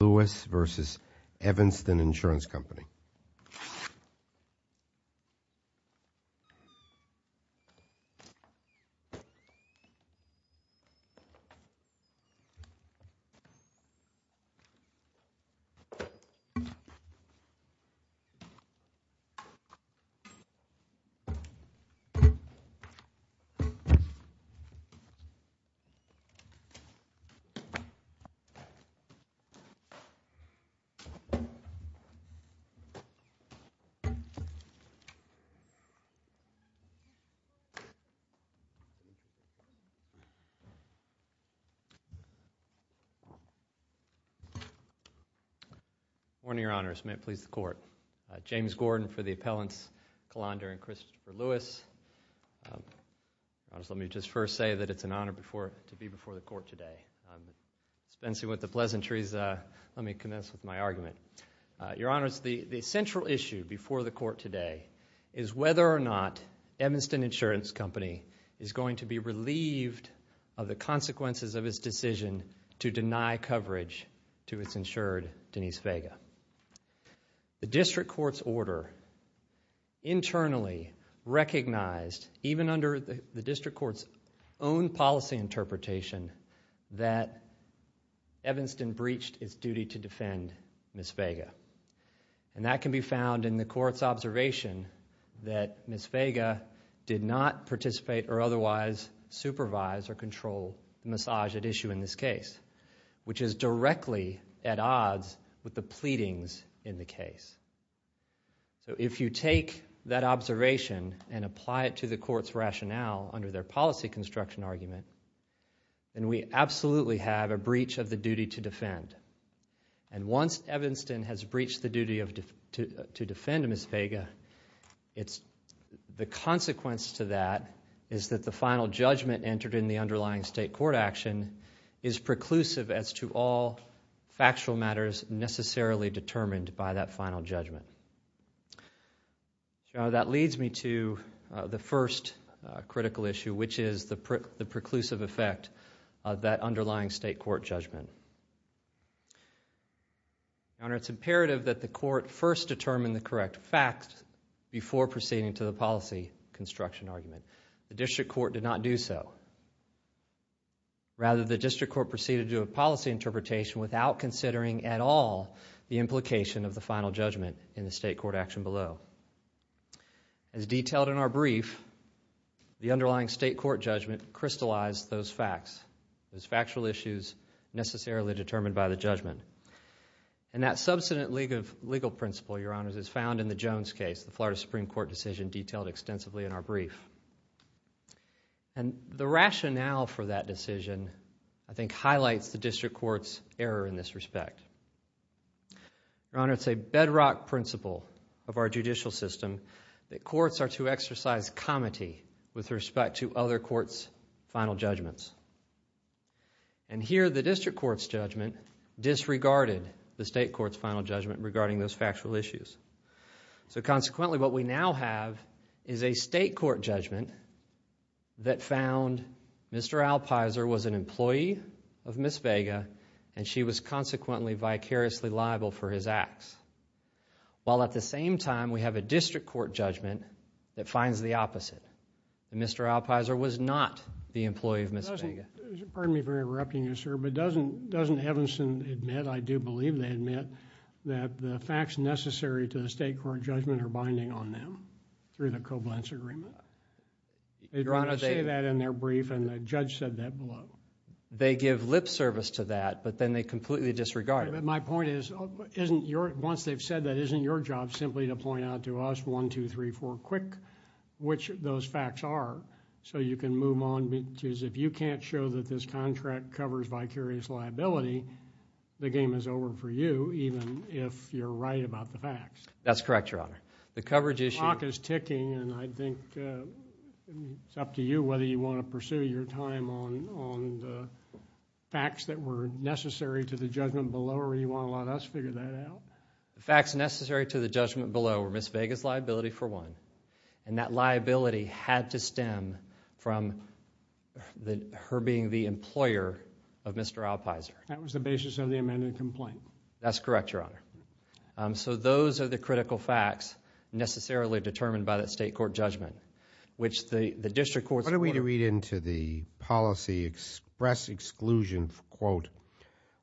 Lewis v. Evanston Insurance Company Good morning, Your Honors. May it please the Court. James Gordon for the appellants Kalandra and Christopher Lewis. Let me just first say that it's an honor to be before the Court today. Spencing with the pleasantries, let me commence with my argument. Your Honors, the central issue before the Court today is whether or not Evanston Insurance Company is going to be relieved of the consequences of its decision to deny coverage to its insured Denise Vega. The District Court's order internally recognized, even under the District Court's own policy interpretation, that Evanston breached its duty to defend Ms. Vega. That can be found in the Court's observation that Ms. Vega did not participate or otherwise supervise or control the massage at issue in this case, which is directly at odds with the pleadings in the case. If you take that observation and apply it to the Court's rationale under their policy construction argument, then we absolutely have a breach of the duty to defend. And once Evanston has breached the duty to defend Ms. Vega, the consequence to that is that the final judgment entered in the underlying State Court action is preclusive as to all factual matters necessarily determined by that final judgment. Your Honor, that leads me to the first critical issue, which is the preclusive effect of that underlying State Court judgment. Your Honor, it's imperative that the Court first determine the correct facts before proceeding to the policy construction argument. The District Court did not do so. Rather, the District Court proceeded to a policy interpretation without considering at all the implication of the final judgment in the State Court action below. As detailed in our brief, the underlying State Court judgment crystallized those facts, those factual issues necessarily determined by the judgment. And that substantive legal principle, Your Honors, is found in the Jones case, the Florida Supreme Court decision detailed extensively in our brief. And the rationale for that decision, I think, highlights the error in this respect. Your Honor, it's a bedrock principle of our judicial system that courts are to exercise comity with respect to other courts' final judgments. And here, the District Court's judgment disregarded the State Court's final judgment regarding those factual issues. So consequently, what we now have is a State Court judgment that found Mr. Alpizer was an employee of Ms. Vega and she was consequently vicariously liable for his acts. While at the same time, we have a District Court judgment that finds the opposite, that Mr. Alpizer was not the employee of Ms. Vega. Pardon me for interrupting you, sir, but doesn't Evanson admit, I do believe they admit, that the facts necessary to the State Court judgment are binding on them through the Koblenz Agreement? They try to say that in their brief and the judge said that below. They give lip service to that, but then they completely disregard it. My point is, once they've said that, isn't your job simply to point out to us, one, two, three, four, quick, which those facts are, so you can move on? Because if you can't show that this contract covers vicarious liability, the game is over for you, even if you're right about the facts. That's correct, Your Honor. The coverage issue... Clock is ticking and I think it's up to you whether you want to pursue your time on the facts that were necessary to the judgment below, or you want to let us figure that out? The facts necessary to the judgment below were Ms. Vega's liability for one, and that liability had to stem from her being the employer of Mr. Alpizer. That was the basis of the amended complaint? That's correct, Your Honor. Those are the critical facts necessarily determined by the state court judgment, which the district courts... Why don't we read into the policy express exclusion, quote,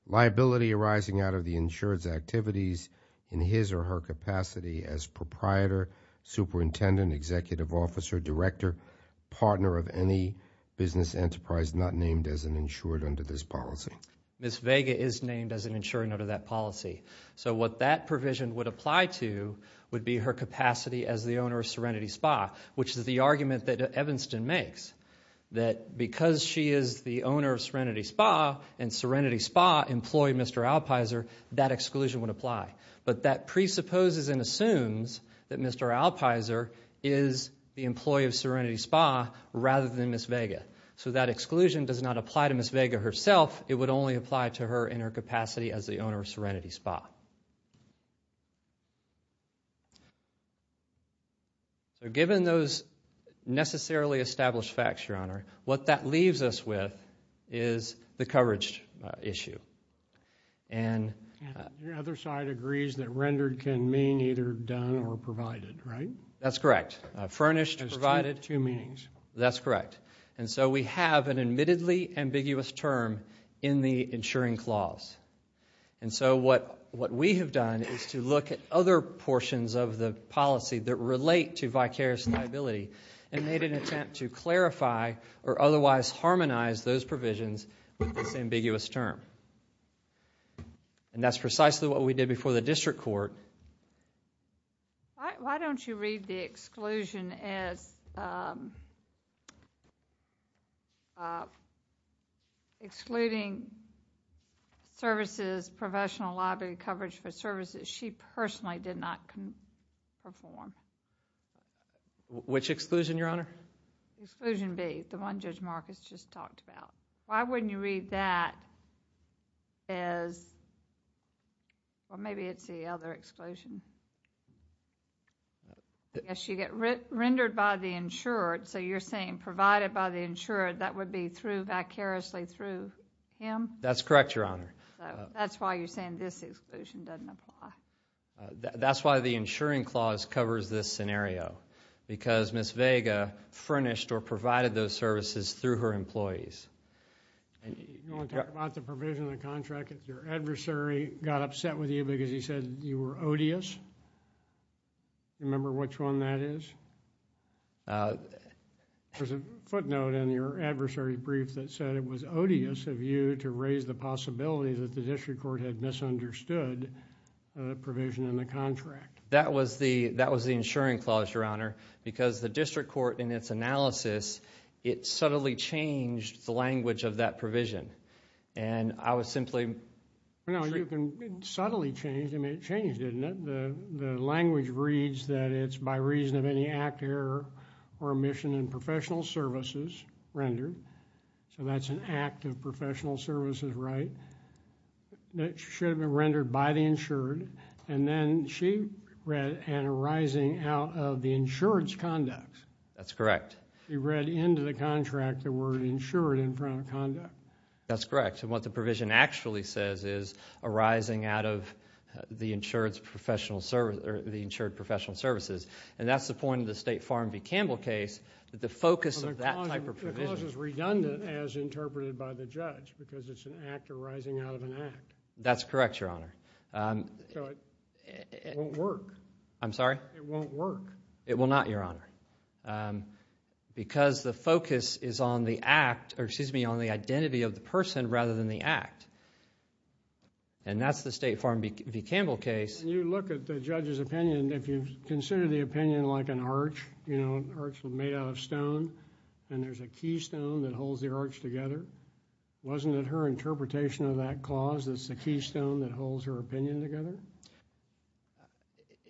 liability arising out of the insured's activities in his or her capacity as proprietor, superintendent, executive officer, director, partner of any business enterprise not named as an insured under this policy. Ms. Vega is named as an insured under that policy. So what that provision would apply to would be her capacity as the owner of Serenity Spa, which is the argument that Evanston makes, that because she is the owner of Serenity Spa and Serenity Spa employed Mr. Alpizer, that exclusion would apply. But that presupposes and assumes that Mr. Alpizer is the employee of Serenity Spa rather than Ms. Vega. So that exclusion does not apply to Ms. Vega herself. It would only apply to her in her capacity as the owner of Serenity Spa. So given those necessarily established facts, Your Honor, what that leaves us with is the coverage issue. And... Your other side agrees that rendered can mean either done or provided, right? That's correct. Furnished, provided. There's two meanings. That's correct. And so we have an admittedly ambiguous term in the insuring clause. And so what we have done is to look at other portions of the policy that relate to vicarious liability and made an attempt to clarify or otherwise harmonize those provisions with this ambiguous term. And that's precisely what we did before the district court. Ms. Brown. Why don't you read the exclusion as excluding services, professional liability coverage for services she personally did not perform? Which exclusion, Your Honor? Exclusion B, the one Judge Marcus just talked about. Why wouldn't you read that as, well, maybe it's the other exclusion. I guess you get rendered by the insured, so you're saying provided by the insured, that would be through vicariously through him? That's correct, Your Honor. That's why you're saying this exclusion doesn't apply. That's why the insuring clause covers this scenario, because Ms. Vega furnished or provided those services through her employees. You want to talk about the provision of the contract if your adversary got upset with you because he said you were odious? Remember which one that is? There's a footnote in your adversary brief that said it was odious of you to raise the possibility that the district court had misunderstood the provision in the contract. That was the insuring clause, Your Honor, because the district court in its analysis, it subtly changed the language of that provision. I was simply... No, you can subtly change, I mean, it changed, didn't it? The language reads that it's by reason of any act, error, or omission in professional services rendered, so that's an act of professional services, right? That should have been rendered by the insured, and then she read an arising out of the insured's conduct. That's correct. She read into the contract the word insured in front of conduct. That's correct, and what the provision actually says is arising out of the insured's professional service, or the insured professional services, and that's the point of the State Farm v. Campbell case, that the focus of that type of provision... The clause is redundant as interpreted by the judge, because it's an act arising out of an act. That's correct, Your Honor. It won't work. I'm sorry? It won't work. It will not, Your Honor, because the focus is on the act, or excuse me, on the identity of the person rather than the act, and that's the State Farm v. Campbell case. You look at the judge's opinion, if you consider the opinion like an arch, you know, an arch made out of stone, and there's a keystone that holds the arch together, wasn't it her interpretation of that clause that's the keystone that holds her opinion together?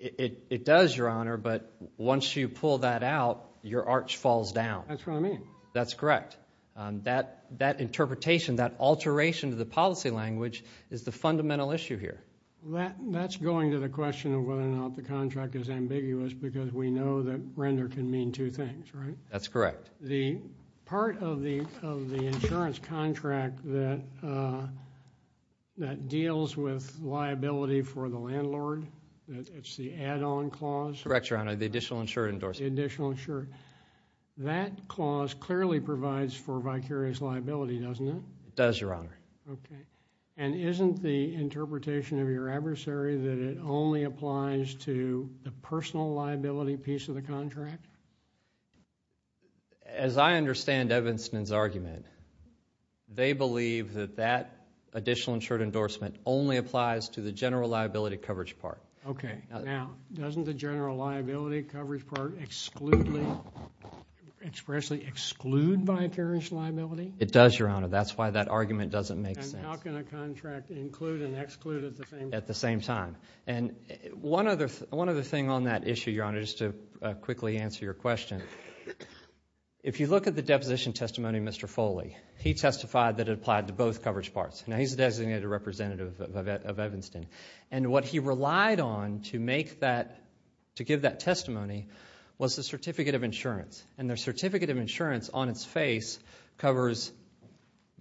It does, Your Honor, but once you pull that out, your arch falls down. That's what I mean. That's correct. That interpretation, that alteration to the policy language is the fundamental issue here. That's going to the question of whether or not the contract is ambiguous, because we know that render can mean two things, right? That's correct. The part of the insurance contract that deals with liability for the landlord, it's the add-on clause? Correct, Your Honor. The additional insurance endorsement. The additional insurance. That clause clearly provides for vicarious liability, doesn't it? It does, Your Honor. Okay. And isn't the interpretation of your adversary that it only applies to the personal liability piece of the contract? As I understand Evanston's argument, they believe that that additional insurance endorsement only applies to the general liability coverage part. Okay. Now, doesn't the general liability coverage part expressly exclude vicarious liability? It does, Your Honor. That's why that argument doesn't make sense. And how can a contract include and exclude at the same time? At the same time. And one other thing on that issue, Your Honor, just to quickly answer your question. If you look at the deposition testimony of Mr. Foley, he testified that it applied to both coverage parts. Now, he's a designated representative of Evanston. And what he relied on to make that, to give that testimony was the certificate of insurance. And the certificate of insurance on its face covers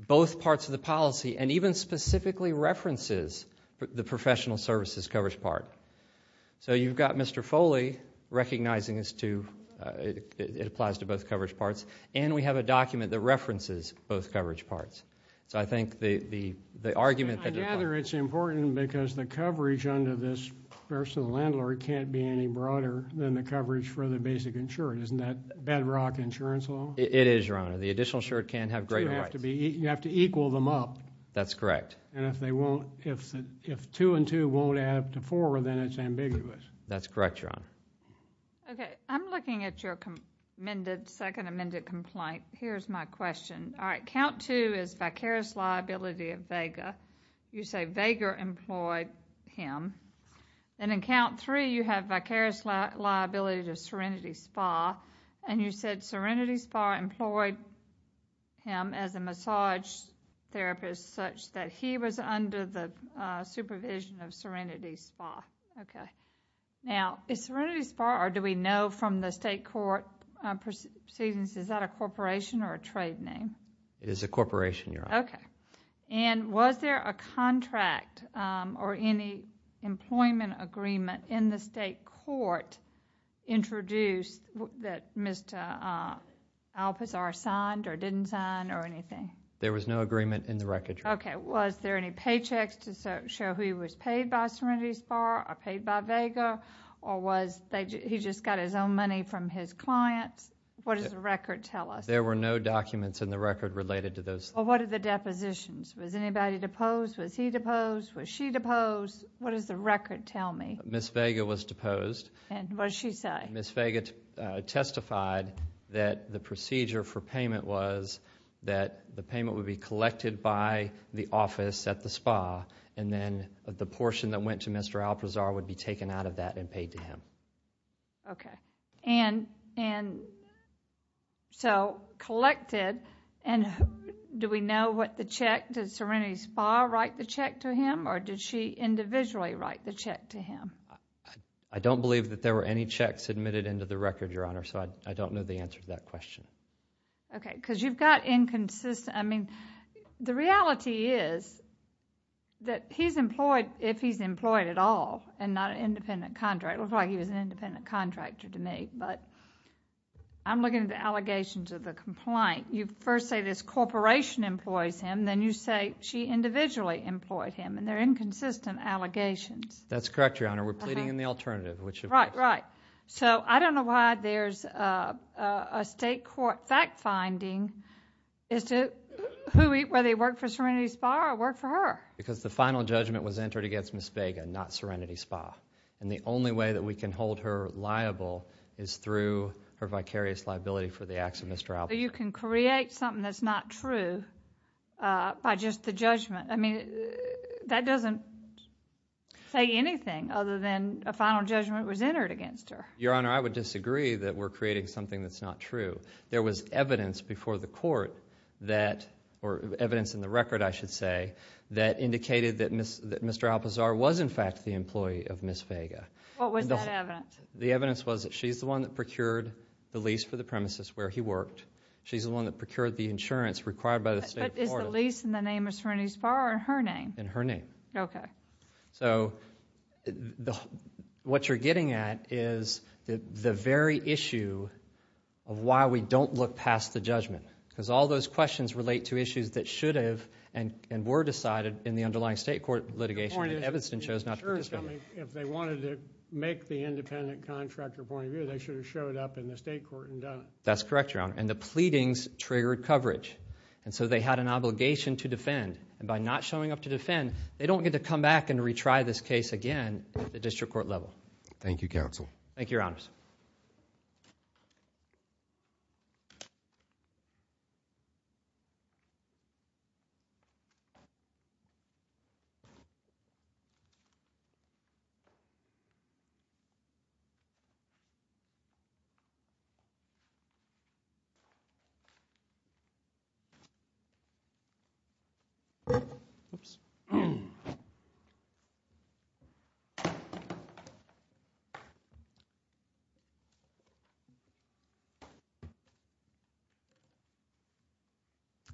both parts of the policy and even specifically references the professional services coverage part. So you've got Mr. Foley recognizing as to, it applies to both coverage parts. And we have a document that references both coverage parts. So I think the argument that you're trying to make. I gather it's important because the coverage under this personal landlord can't be any broader than the coverage for the basic insured. Isn't that bedrock insurance law? It is, Your Honor. The additional insured can't have greater rights. You have to equal them up. That's correct. And if they won't, if two and two won't add up to four, then it's ambiguous. That's correct, Your Honor. Okay. I'm looking at your amended, second amended complaint. Here's my question. All right. Count two is vicarious liability of Vega. You say Vega employed him. And in count three, you have vicarious liability to Serenity Spa. And you said Serenity Spa employed him as a massage therapist such that he was under the supervision of Serenity Spa. Okay. Now, is Serenity Spa, or do we know from the state court proceedings, is that a corporation or a trade name? It is a corporation, Your Honor. Okay. Okay. And was there a contract or any employment agreement in the state court introduced that Mr. Alpazar signed or didn't sign or anything? There was no agreement in the record, Your Honor. Okay. Was there any paychecks to show he was paid by Serenity Spa or paid by Vega or was he just got his own money from his clients? What does the record tell us? There were no documents in the record related to those. Well, what are the depositions? Was anybody deposed? Was he deposed? Was she deposed? What does the record tell me? Ms. Vega was deposed. And what does she say? Ms. Vega testified that the procedure for payment was that the payment would be collected by the office at the spa and then the portion that went to Mr. Alpazar would be taken out of that and paid to him. Okay. And so collected and do we know what the check, did Serenity Spa write the check to him or did she individually write the check to him? I don't believe that there were any checks submitted into the record, Your Honor, so I don't know the answer to that question. Okay. Because you've got inconsistent... I mean, the reality is that he's employed, if he's employed at all and not an independent contractor, it looks like he was an independent contractor to me, but I'm looking at the allegations of the complaint. You first say this corporation employs him, then you say she individually employed him and they're inconsistent allegations. That's correct, Your Honor. We're pleading in the alternative, which... Right. Right. So I don't know why there's a state court fact finding as to whether he worked for Serenity Spa or worked for her. Because the final judgment was entered against Ms. Vega, not Serenity Spa. And the only way that we can hold her liable is through her vicarious liability for the acts of Mr. Alpazar. So you can create something that's not true by just the judgment. I mean, that doesn't say anything other than a final judgment was entered against her. Your Honor, I would disagree that we're creating something that's not true. There was evidence before the court that... or evidence in the record, I should say, that indicated that Mr. Alpazar was, in fact, the employee of Ms. Vega. What was that evidence? The evidence was that she's the one that procured the lease for the premises where he worked. She's the one that procured the insurance required by the state... But is the lease in the name of Serenity Spa or in her name? In her name. Okay. So what you're getting at is the very issue of why we don't look past the judgment. Because all those questions relate to issues that should have and were decided in the underlying state court litigation... Your point is...... that Evanston chose not to participate. If they wanted to make the independent contractor point of view, they should have showed up in the state court and done it. That's correct, Your Honor. And the pleadings triggered coverage. And so they had an obligation to defend. And by not showing up to defend, they don't get to come back and retry this case again at the district court level. Thank you, Counsel. Thank you, Your Honors.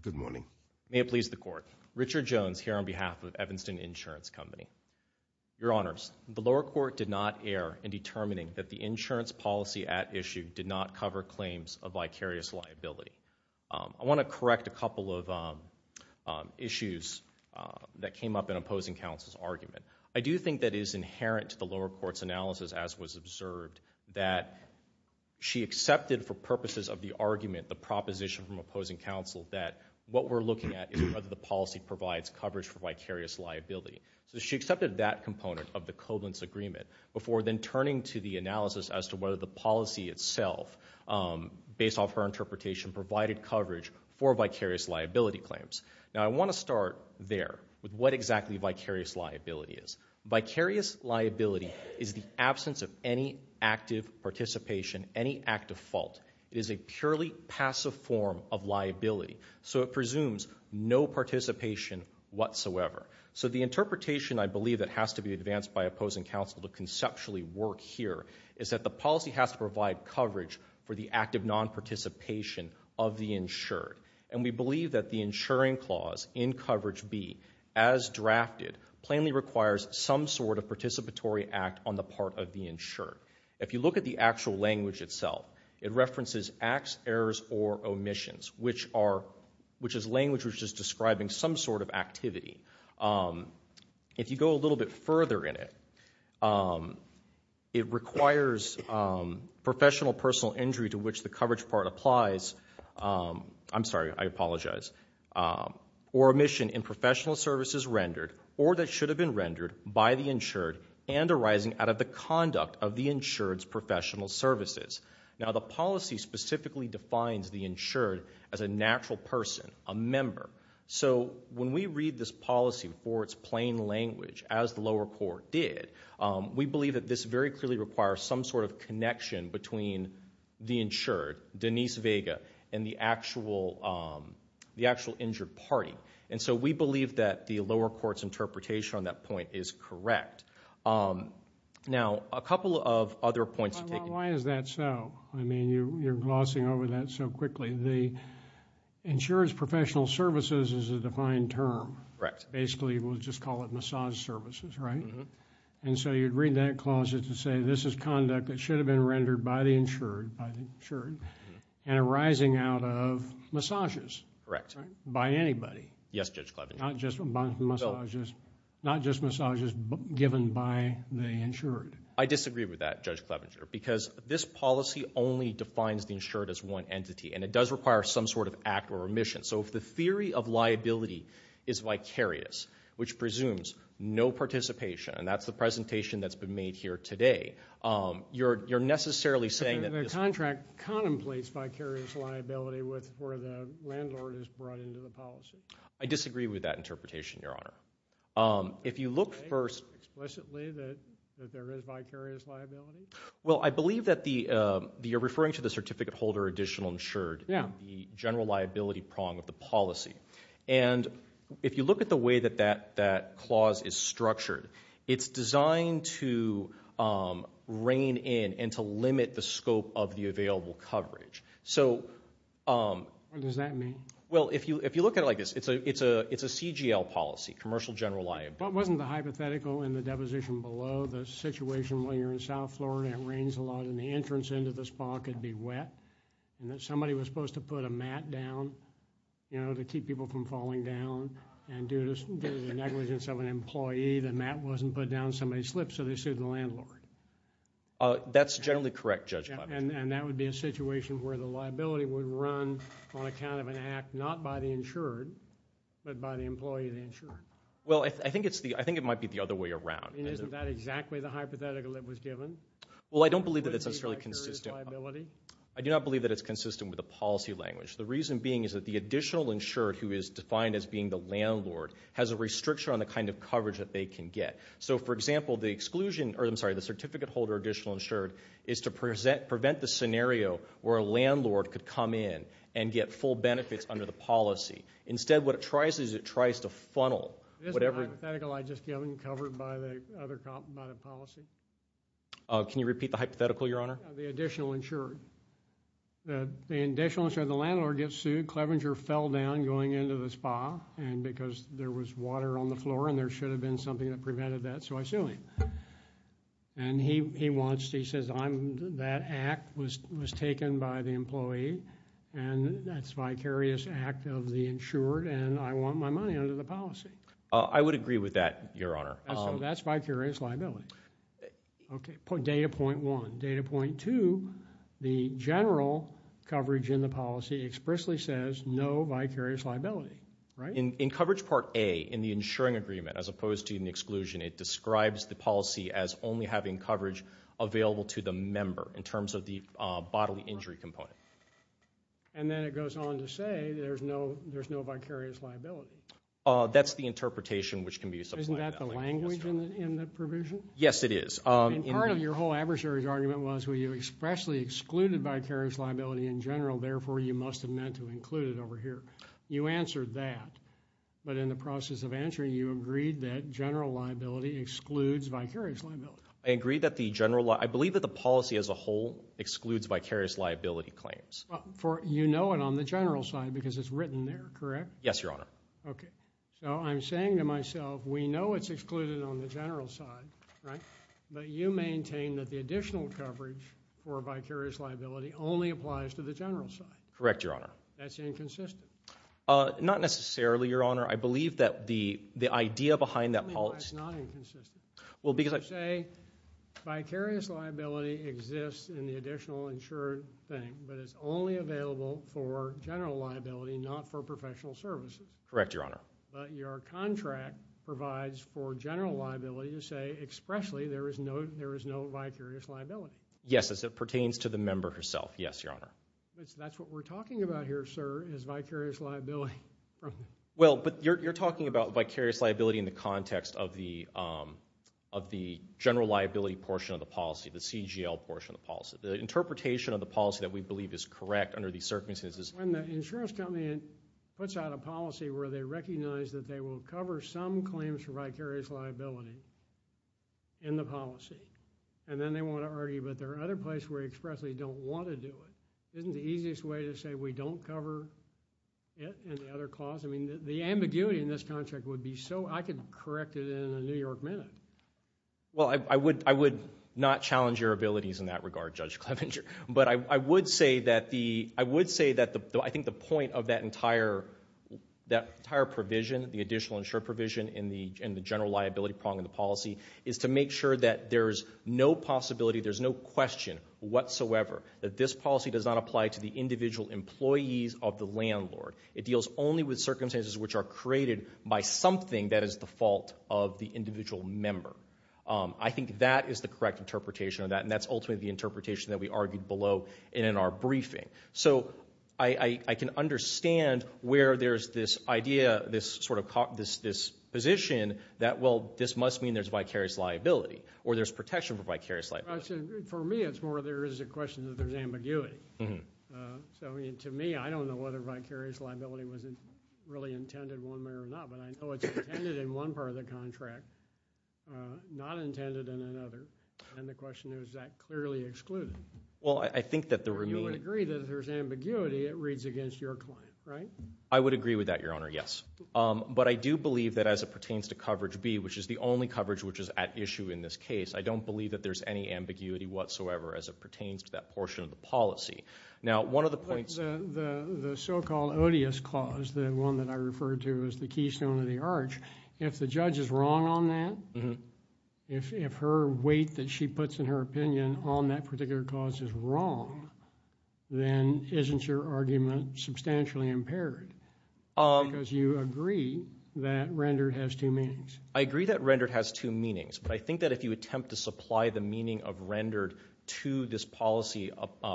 Good morning. May it please the Court. Richard Jones here on behalf of Evanston Insurance Company. Your Honors, the lower court did not err in determining that the insurance policy at issue did not cover claims of vicarious liability. I want to correct a couple of issues that came up in opposing counsel's argument. I do think that it is inherent to the lower court's analysis, as was observed, that she accepted for purposes of the argument, the proposition from opposing counsel, that what we're looking at is whether the policy provides coverage for vicarious liability. So she accepted that component of the Koblentz Agreement before then turning to the analysis as to whether the policy itself, based off her interpretation, provided coverage for vicarious liability claims. Now I want to start there with what exactly vicarious liability is. Vicarious liability is the absence of any active participation, any active fault. It is a purely passive form of liability. So it presumes no participation whatsoever. So the interpretation, I believe, that has to be advanced by opposing counsel to conceptually work here is that the policy has to provide coverage for the active non-participation of the insured. And we believe that the insuring clause in Coverage B, as drafted, plainly requires some sort of participatory act on the part of the insured. If you look at the actual language itself, it references acts, errors, or omissions, which is language which is describing some sort of activity. If you go a little bit further in it, it requires professional personal injury to which the I apologize, or omission in professional services rendered or that should have been rendered by the insured and arising out of the conduct of the insured's professional services. Now the policy specifically defines the insured as a natural person, a member. So when we read this policy for its plain language, as the lower court did, we believe that this very clearly requires some sort of connection between the insured, Denise Vega, and the actual injured party. And so we believe that the lower court's interpretation on that point is correct. Now a couple of other points. Why is that so? I mean, you're glossing over that so quickly. The insured's professional services is a defined term. Basically, we'll just call it massage services, right? And so you'd read that clause as to say this is conduct that should have been rendered by the insured and arising out of massages by anybody, not just massages given by the insured. I disagree with that, Judge Clevenger, because this policy only defines the insured as one entity and it does require some sort of act or omission. So if the theory of liability is vicarious, which presumes no participation, and that's the presentation that's been made here today, you're necessarily saying that this- The contract contemplates vicarious liability where the landlord is brought into the policy. I disagree with that interpretation, Your Honor. If you look first- Explain explicitly that there is vicarious liability? Well, I believe that you're referring to the certificate holder additional insured in the general liability prong of the policy. And if you look at the way that that clause is structured, it's designed to rein in and to limit the scope of the available coverage. So- What does that mean? Well, if you look at it like this, it's a CGL policy, Commercial General Liability. But wasn't the hypothetical in the deposition below the situation when you're in South Florida and it rains a lot and the entrance into the spa could be wet and that somebody was supposed to put a mat down, you know, to keep people from falling down, and due to the negligence of an employee, the mat wasn't put down, somebody slipped, so they sued the landlord. That's generally correct, Judge Klaver. And that would be a situation where the liability would run on account of an act not by the insured, but by the employee, the insured. Well, I think it's the- I think it might be the other way around. And isn't that exactly the hypothetical that was given? Vicarious liability? I do not believe that it's consistent with the policy language. The reason being is that the additional insured, who is defined as being the landlord, has a restriction on the kind of coverage that they can get. So for example, the exclusion- or I'm sorry, the certificate holder additional insured is to prevent the scenario where a landlord could come in and get full benefits under the policy. Instead, what it tries to do is it tries to funnel whatever- Isn't the hypothetical I just given covered by the policy? Can you repeat the hypothetical, Your Honor? The additional insured. The additional insured, the landlord gets sued, Clevenger fell down going into the spa and because there was water on the floor and there should have been something that prevented that, so I sue him. And he wants to- he says, that act was taken by the employee and that's vicarious act of the insured and I want my money under the policy. I would agree with that, Your Honor. That's vicarious liability. Okay. Data point one. Data point two, the general coverage in the policy expressly says no vicarious liability, right? In coverage part A, in the insuring agreement, as opposed to in the exclusion, it describes the policy as only having coverage available to the member in terms of the bodily injury component. And then it goes on to say there's no vicarious liability. That's the interpretation which can be supplied. Isn't that the language in the provision? Yes, it is. And part of your whole adversary's argument was, well, you expressly excluded vicarious liability in general, therefore you must have meant to include it over here. You answered that, but in the process of answering, you agreed that general liability excludes vicarious liability. I agree that the general li- I believe that the policy as a whole excludes vicarious liability claims. Well, for- you know it on the general side because it's written there, correct? Yes, Your Honor. Okay. So I'm saying to myself, we know it's excluded on the general side, right? But you maintain that the additional coverage for vicarious liability only applies to the general side. Correct, Your Honor. That's inconsistent. Not necessarily, Your Honor. I believe that the idea behind that policy- Tell me why it's not inconsistent. Well, because I- You say vicarious liability exists in the additional insured thing, but it's only available for general liability, not for professional services. Correct, Your Honor. But your contract provides for general liability to say expressly there is no vicarious liability. Yes, as it pertains to the member herself. Yes, Your Honor. But that's what we're talking about here, sir, is vicarious liability. Well, but you're talking about vicarious liability in the context of the general liability portion of the policy, the CGL portion of the policy. The interpretation of the policy that we believe is correct under these circumstances- When the insurance company puts out a policy where they recognize that they will cover some claims for vicarious liability in the policy, and then they want to argue, but there are other places where they expressly don't want to do it, isn't the easiest way to say we don't cover it and the other clause? I mean, the ambiguity in this contract would be so- I could correct it in a New York minute. Well, I would not challenge your abilities in that regard, Judge Clevenger, but I would say that the- I would say that I think the point of that entire provision, the additional insurance provision in the general liability part of the policy, is to make sure that there's no possibility, there's no question whatsoever that this policy does not apply to the individual employees of the landlord. It deals only with circumstances which are created by something that is the fault of the individual member. I think that is the correct interpretation of that, and that's ultimately the interpretation that we argued below and in our briefing. So I can understand where there's this idea, this sort of- this position that, well, this must mean there's vicarious liability, or there's protection for vicarious liability. For me, it's more there is a question that there's ambiguity. So to me, I don't know whether vicarious liability was really intended one way or not, but I know it's intended in one part of the contract, not intended in another, and the question is, is that clearly excluded? Well, I think that the remaining- You would agree that if there's ambiguity, it reads against your client, right? I would agree with that, Your Honor, yes. But I do believe that as it pertains to coverage B, which is the only coverage which is at issue in this case, I don't believe that there's any ambiguity whatsoever as it pertains to that portion of the policy. Now one of the points- The so-called odious clause, the one that I referred to as the keystone of the arch, if the judge is wrong on that, if her weight that she puts in her opinion on that particular clause is wrong, then isn't your argument substantially impaired? Because you agree that rendered has two meanings. I agree that rendered has two meanings, but I think that if you attempt to supply the meaning of rendered to this policy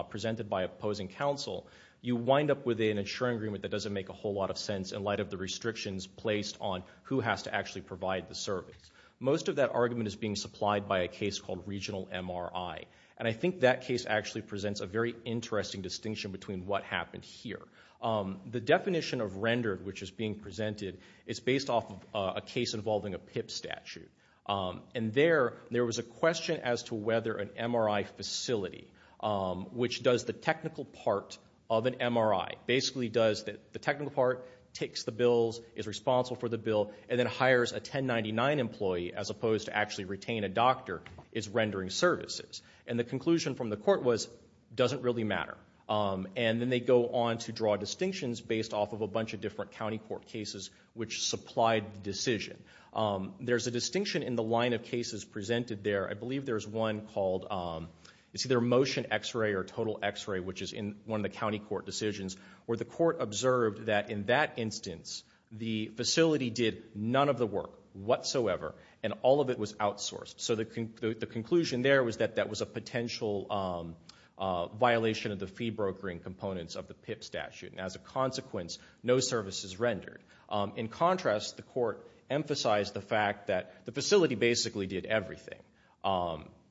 presented by opposing counsel, you wind up with an insuring agreement that doesn't make a whole lot of sense in light of the restrictions placed on who has to actually provide the service. Most of that argument is being supplied by a case called regional MRI, and I think that case actually presents a very interesting distinction between what happened here. The definition of rendered which is being presented is based off of a case involving a PIP statute, and there was a question as to whether an MRI facility, which does the technical part of an MRI, basically does the technical part, takes the bills, is responsible for the bill, and then hires a 1099 employee as opposed to actually retain a doctor, is rendering services. And the conclusion from the court was, doesn't really matter. And then they go on to draw distinctions based off of a bunch of different county court cases which supplied the decision. There's a distinction in the line of cases presented there. I believe there's one called, it's either motion x-ray or total x-ray, which is in one of the county court decisions where the court observed that in that instance, the facility did none of the work whatsoever, and all of it was outsourced. So the conclusion there was that that was a potential violation of the fee brokering components of the PIP statute, and as a consequence, no service is rendered. In contrast, the court emphasized the fact that the facility basically did everything.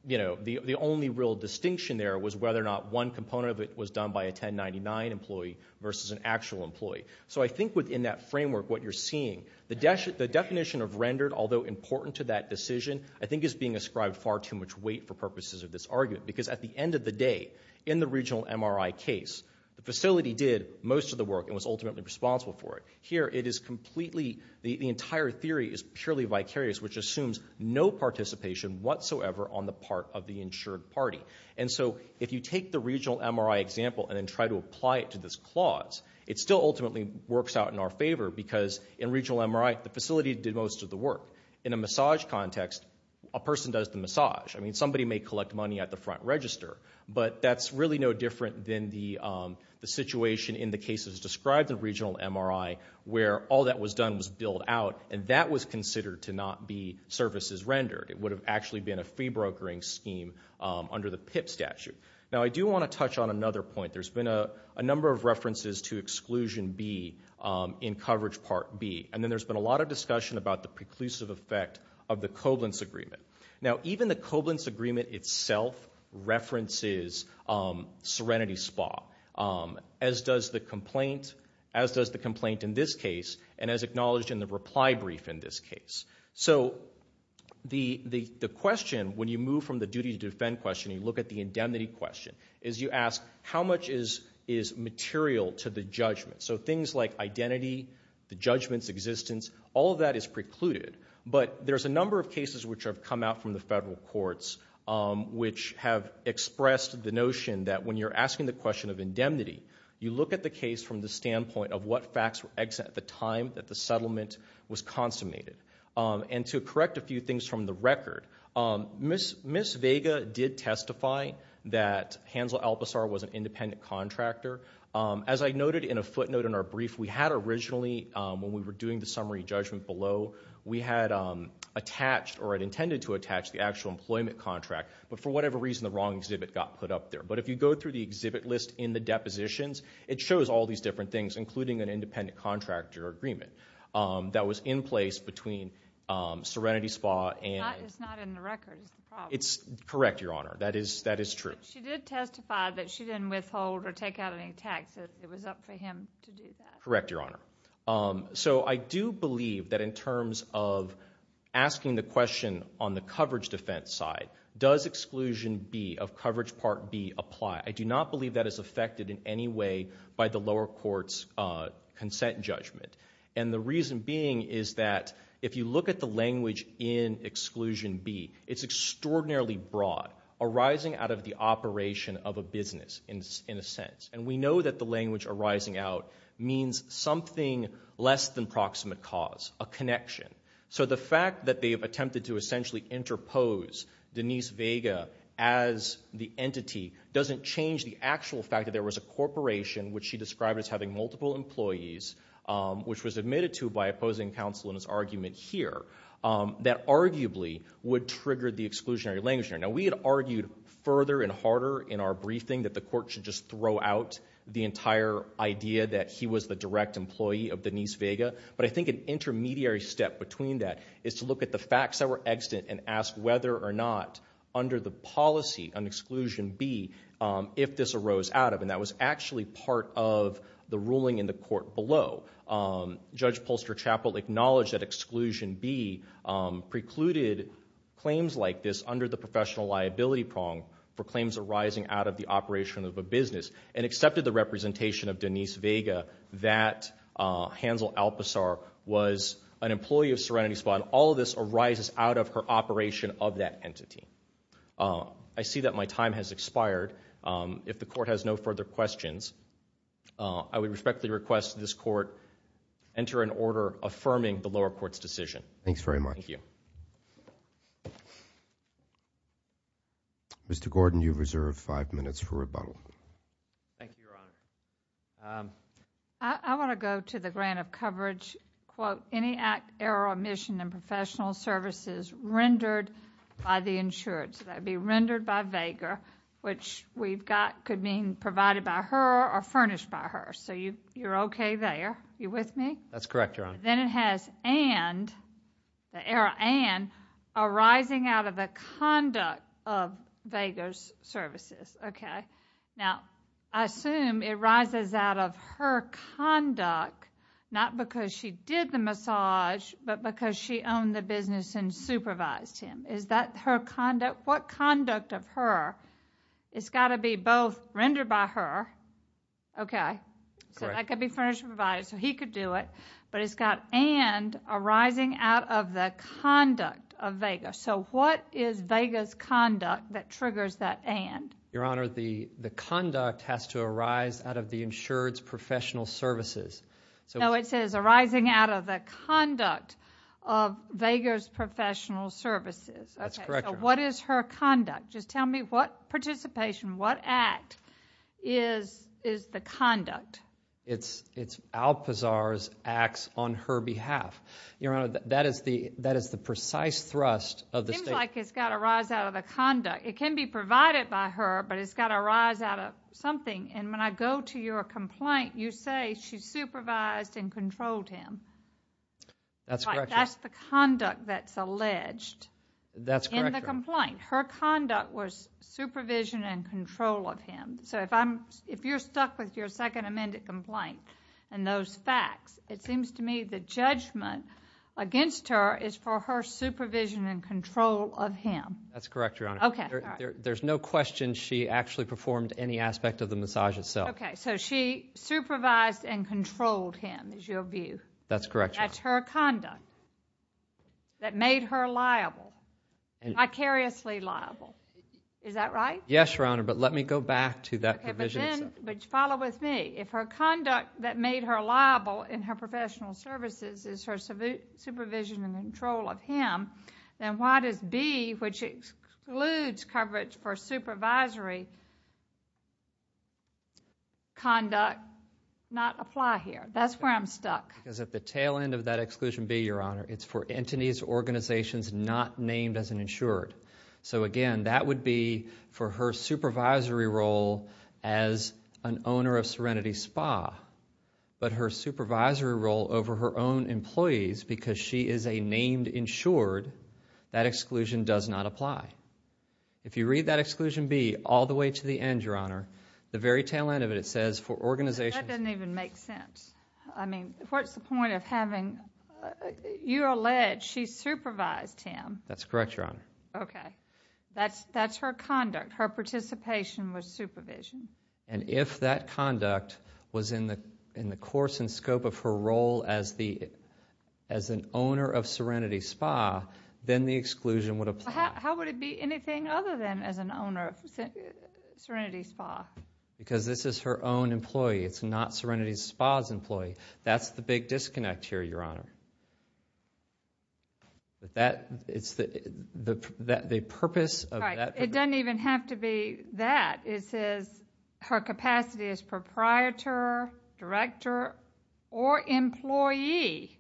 You know, the only real distinction there was whether or not one component of it was done by a 1099 employee versus an actual employee. So I think within that framework, what you're seeing, the definition of rendered, although important to that decision, I think is being ascribed far too much weight for purposes of this argument. Because at the end of the day, in the regional MRI case, the facility did most of the work and was ultimately responsible for it. Here it is completely, the entire theory is purely vicarious, which assumes no participation whatsoever on the part of the insured party. And so if you take the regional MRI example and then try to apply it to this clause, it still ultimately works out in our favor, because in regional MRI, the facility did most of the work. In a massage context, a person does the massage. I mean, somebody may collect money at the front register, but that's really no different than the situation in the cases described in regional MRI, where all that was done was billed out, and that was considered to not be services rendered. It would have actually been a fee brokering scheme under the PIP statute. Now I do want to touch on another point. There's been a number of references to exclusion B in coverage part B, and then there's been a lot of discussion about the preclusive effect of the Koblentz agreement. Now even the Koblentz agreement itself references Serenity Spa, as does the complaint in this case, and as acknowledged in the reply brief in this case. So the question, when you move from the duty to defend question, you look at the indemnity question, is you ask, how much is material to the judgment? So things like identity, the judgment's existence, all of that is precluded. But there's a number of cases which have come out from the federal courts which have expressed the notion that when you're asking the question of indemnity, you look at the case from the And to correct a few things from the record, Ms. Vega did testify that Hansel Alpazar was an independent contractor. As I noted in a footnote in our brief, we had originally, when we were doing the summary judgment below, we had attached or had intended to attach the actual employment contract, but for whatever reason, the wrong exhibit got put up there. But if you go through the exhibit list in the depositions, it shows all these different things, including an independent contractor agreement that was in place between Serenity Spa and- It's not in the record. It's the problem. It's correct, Your Honor. That is true. She did testify that she didn't withhold or take out any tax. It was up for him to do that. Correct, Your Honor. So I do believe that in terms of asking the question on the coverage defense side, does exclusion B of coverage part B apply? I do not believe that is affected in any way by the lower court's consent judgment. And the reason being is that if you look at the language in exclusion B, it's extraordinarily broad, arising out of the operation of a business, in a sense. And we know that the language arising out means something less than proximate cause, a connection. So the fact that they have attempted to essentially interpose Denise Vega as the entity doesn't change the actual fact that there was a corporation, which she described as having multiple employees, which was admitted to by opposing counsel in this argument here, that arguably would trigger the exclusionary language there. Now we had argued further and harder in our briefing that the court should just throw out the entire idea that he was the direct employee of Denise Vega. But I think an intermediary step between that is to look at the facts that were extant and ask whether or not under the policy on exclusion B, if this arose out of, and that was actually part of the ruling in the court below. Judge Polster-Chappell acknowledged that exclusion B precluded claims like this under the professional liability prong for claims arising out of the operation of a business and accepted the representation of Denise Vega that Hansel Alpazar was an employee of Serenity Spa. All of this arises out of her operation of that entity. I see that my time has expired. If the court has no further questions, I would respectfully request that this court enter an order affirming the lower court's decision. Thanks very much. Thank you. Mr. Gordon, you have reserved five minutes for rebuttal. Thank you, Your Honor. I want to go to the grant of coverage, quote, any act, error, or omission in professional services rendered by the insured. So that would be rendered by Vega, which we've got could mean provided by her or furnished by her. So you're okay there. Are you with me? That's correct, Your Honor. Then it has and, the error and, arising out of the conduct of Vega's services. Okay. Now, I assume it arises out of her conduct, not because she did the massage, but because she owned the business and supervised him. Is that her conduct? What conduct of her? It's got to be both rendered by her, okay? Correct. So that could be furnished or provided, so he could do it, but it's got and arising out of the conduct of Vega. So what is Vega's conduct that triggers that and? Your Honor, the conduct has to arise out of the insured's professional services. So it says arising out of the conduct of Vega's professional services. That's correct, Your Honor. Okay. So what is her conduct? Just tell me what participation, what act is the conduct? It's Alpazar's acts on her behalf. Your Honor, that is the precise thrust of the state. It seems like it's got to arise out of the conduct. It can be provided by her, but it's got to arise out of something. And when I go to your complaint, you say she supervised and controlled him. That's correct, Your Honor. That's the conduct that's alleged. That's correct, Your Honor. In the complaint. Her conduct was supervision and control of him. So if I'm, if you're stuck with your second amended complaint and those facts, it seems to me the judgment against her is for her supervision and control of him. That's correct, Your Honor. Okay. All right. There's no question she actually performed any aspect of the massage itself. Okay. So she supervised and controlled him is your view? That's correct, Your Honor. That's her conduct that made her liable, vicariously liable. Is that right? Yes, Your Honor. But let me go back to that provision. Okay. But then, but follow with me. If her conduct that made her liable in her professional services is her supervision and she excludes coverage for supervisory conduct, not apply here. That's where I'm stuck. Because at the tail end of that Exclusion B, Your Honor, it's for entities, organizations not named as an insured. So again, that would be for her supervisory role as an owner of Serenity Spa. But her supervisory role over her own employees because she is a named insured, that exclusion does not apply. If you read that Exclusion B all the way to the end, Your Honor, the very tail end of it, it says for organizations... That doesn't even make sense. I mean, what's the point of having... you allege she supervised him. That's correct, Your Honor. Okay. That's her conduct. Her participation was supervision. And if that conduct was in the course and scope of her role as an owner of Serenity Spa, then the exclusion would apply. How would it be anything other than as an owner of Serenity Spa? Because this is her own employee. It's not Serenity Spa's employee. That's the big disconnect here, Your Honor. The purpose of that... It doesn't even have to be that. It says her capacity as proprietor, director, or employee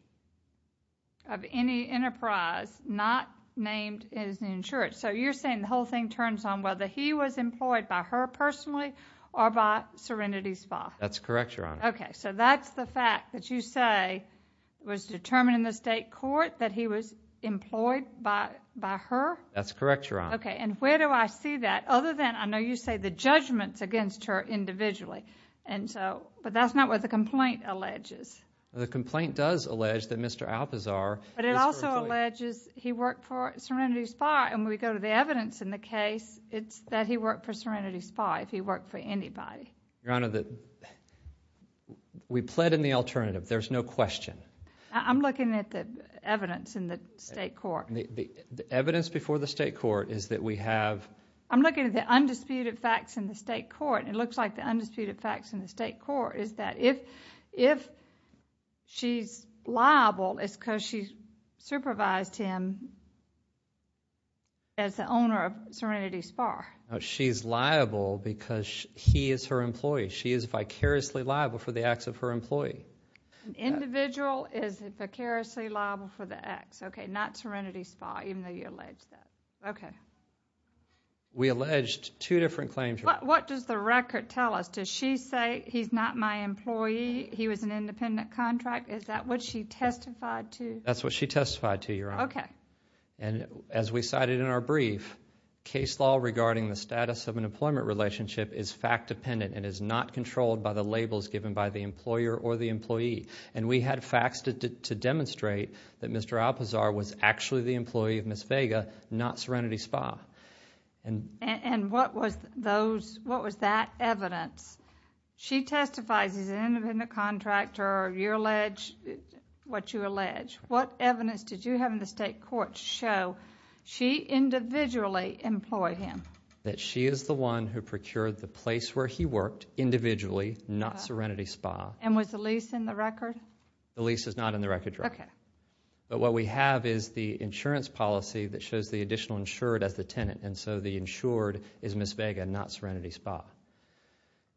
of any enterprise not named as an insured. So you're saying the whole thing turns on whether he was employed by her personally or by Serenity Spa? That's correct, Your Honor. Okay. So that's the fact that you say was determined in the state court that he was employed by her? That's correct, Your Honor. Okay. And where do I see that? Other than... I know you say the judgments against her individually. And so... But that's not what the complaint alleges. The complaint does allege that Mr. Alpazar... But it also alleges he worked for Serenity Spa. And when we go to the evidence in the case, it's that he worked for Serenity Spa if he worked for anybody. Your Honor, we pled in the alternative. There's no question. I'm looking at the evidence in the state court. The evidence before the state court is that we have... I'm looking at the undisputed facts in the state court, and it looks like the undisputed facts in the state court is that if she's liable, it's because she supervised him as the owner of Serenity Spa. She's liable because he is her employee. She is vicariously liable for the acts of her employee. An individual is vicariously liable for the acts, okay, not Serenity Spa, even though we allege that, okay. We alleged two different claims. What does the record tell us? Does she say he's not my employee? He was an independent contract? Is that what she testified to? That's what she testified to, Your Honor. And as we cited in our brief, case law regarding the status of an employment relationship is fact-dependent and is not controlled by the labels given by the employer or the employee. And we had facts to demonstrate that Mr. Alpazar was actually the employee of Ms. Vega, not Serenity Spa. And what was that evidence? She testifies he's an independent contractor, or you allege what you allege. What evidence did you have in the state court to show she individually employed him? That she is the one who procured the place where he worked individually, not Serenity Spa. And was the lease in the record? The lease is not in the record, Your Honor. Okay. But what we have is the insurance policy that shows the additional insured as the tenant. And so, the insured is Ms. Vega, not Serenity Spa.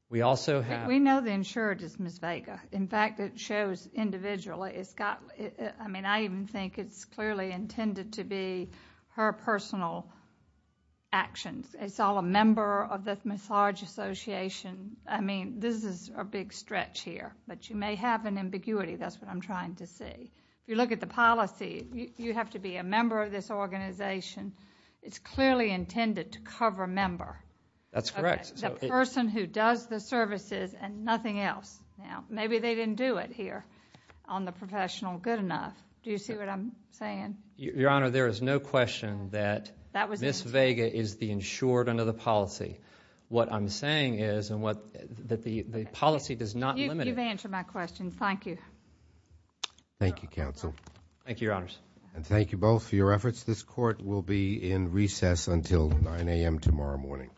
We also have- We know the insured is Ms. Vega. In fact, it shows individually, it's got, I mean, I even think it's clearly intended to be her personal actions. It's all a member of the massage association. I mean, this is a big stretch here, but you may have an ambiguity, that's what I'm trying to say. If you look at the policy, you have to be a member of this organization. It's clearly intended to cover a member. That's correct. The person who does the services and nothing else. Now, maybe they didn't do it here on the professional good enough. Do you see what I'm saying? Your Honor, there is no question that Ms. Vega is the insured under the policy. What I'm saying is that the policy does not limit- You've answered my question. Thank you. Thank you, Counsel. Thank you, Your Honors. And thank you both for your efforts. This Court will be in recess until 9 a.m. tomorrow morning.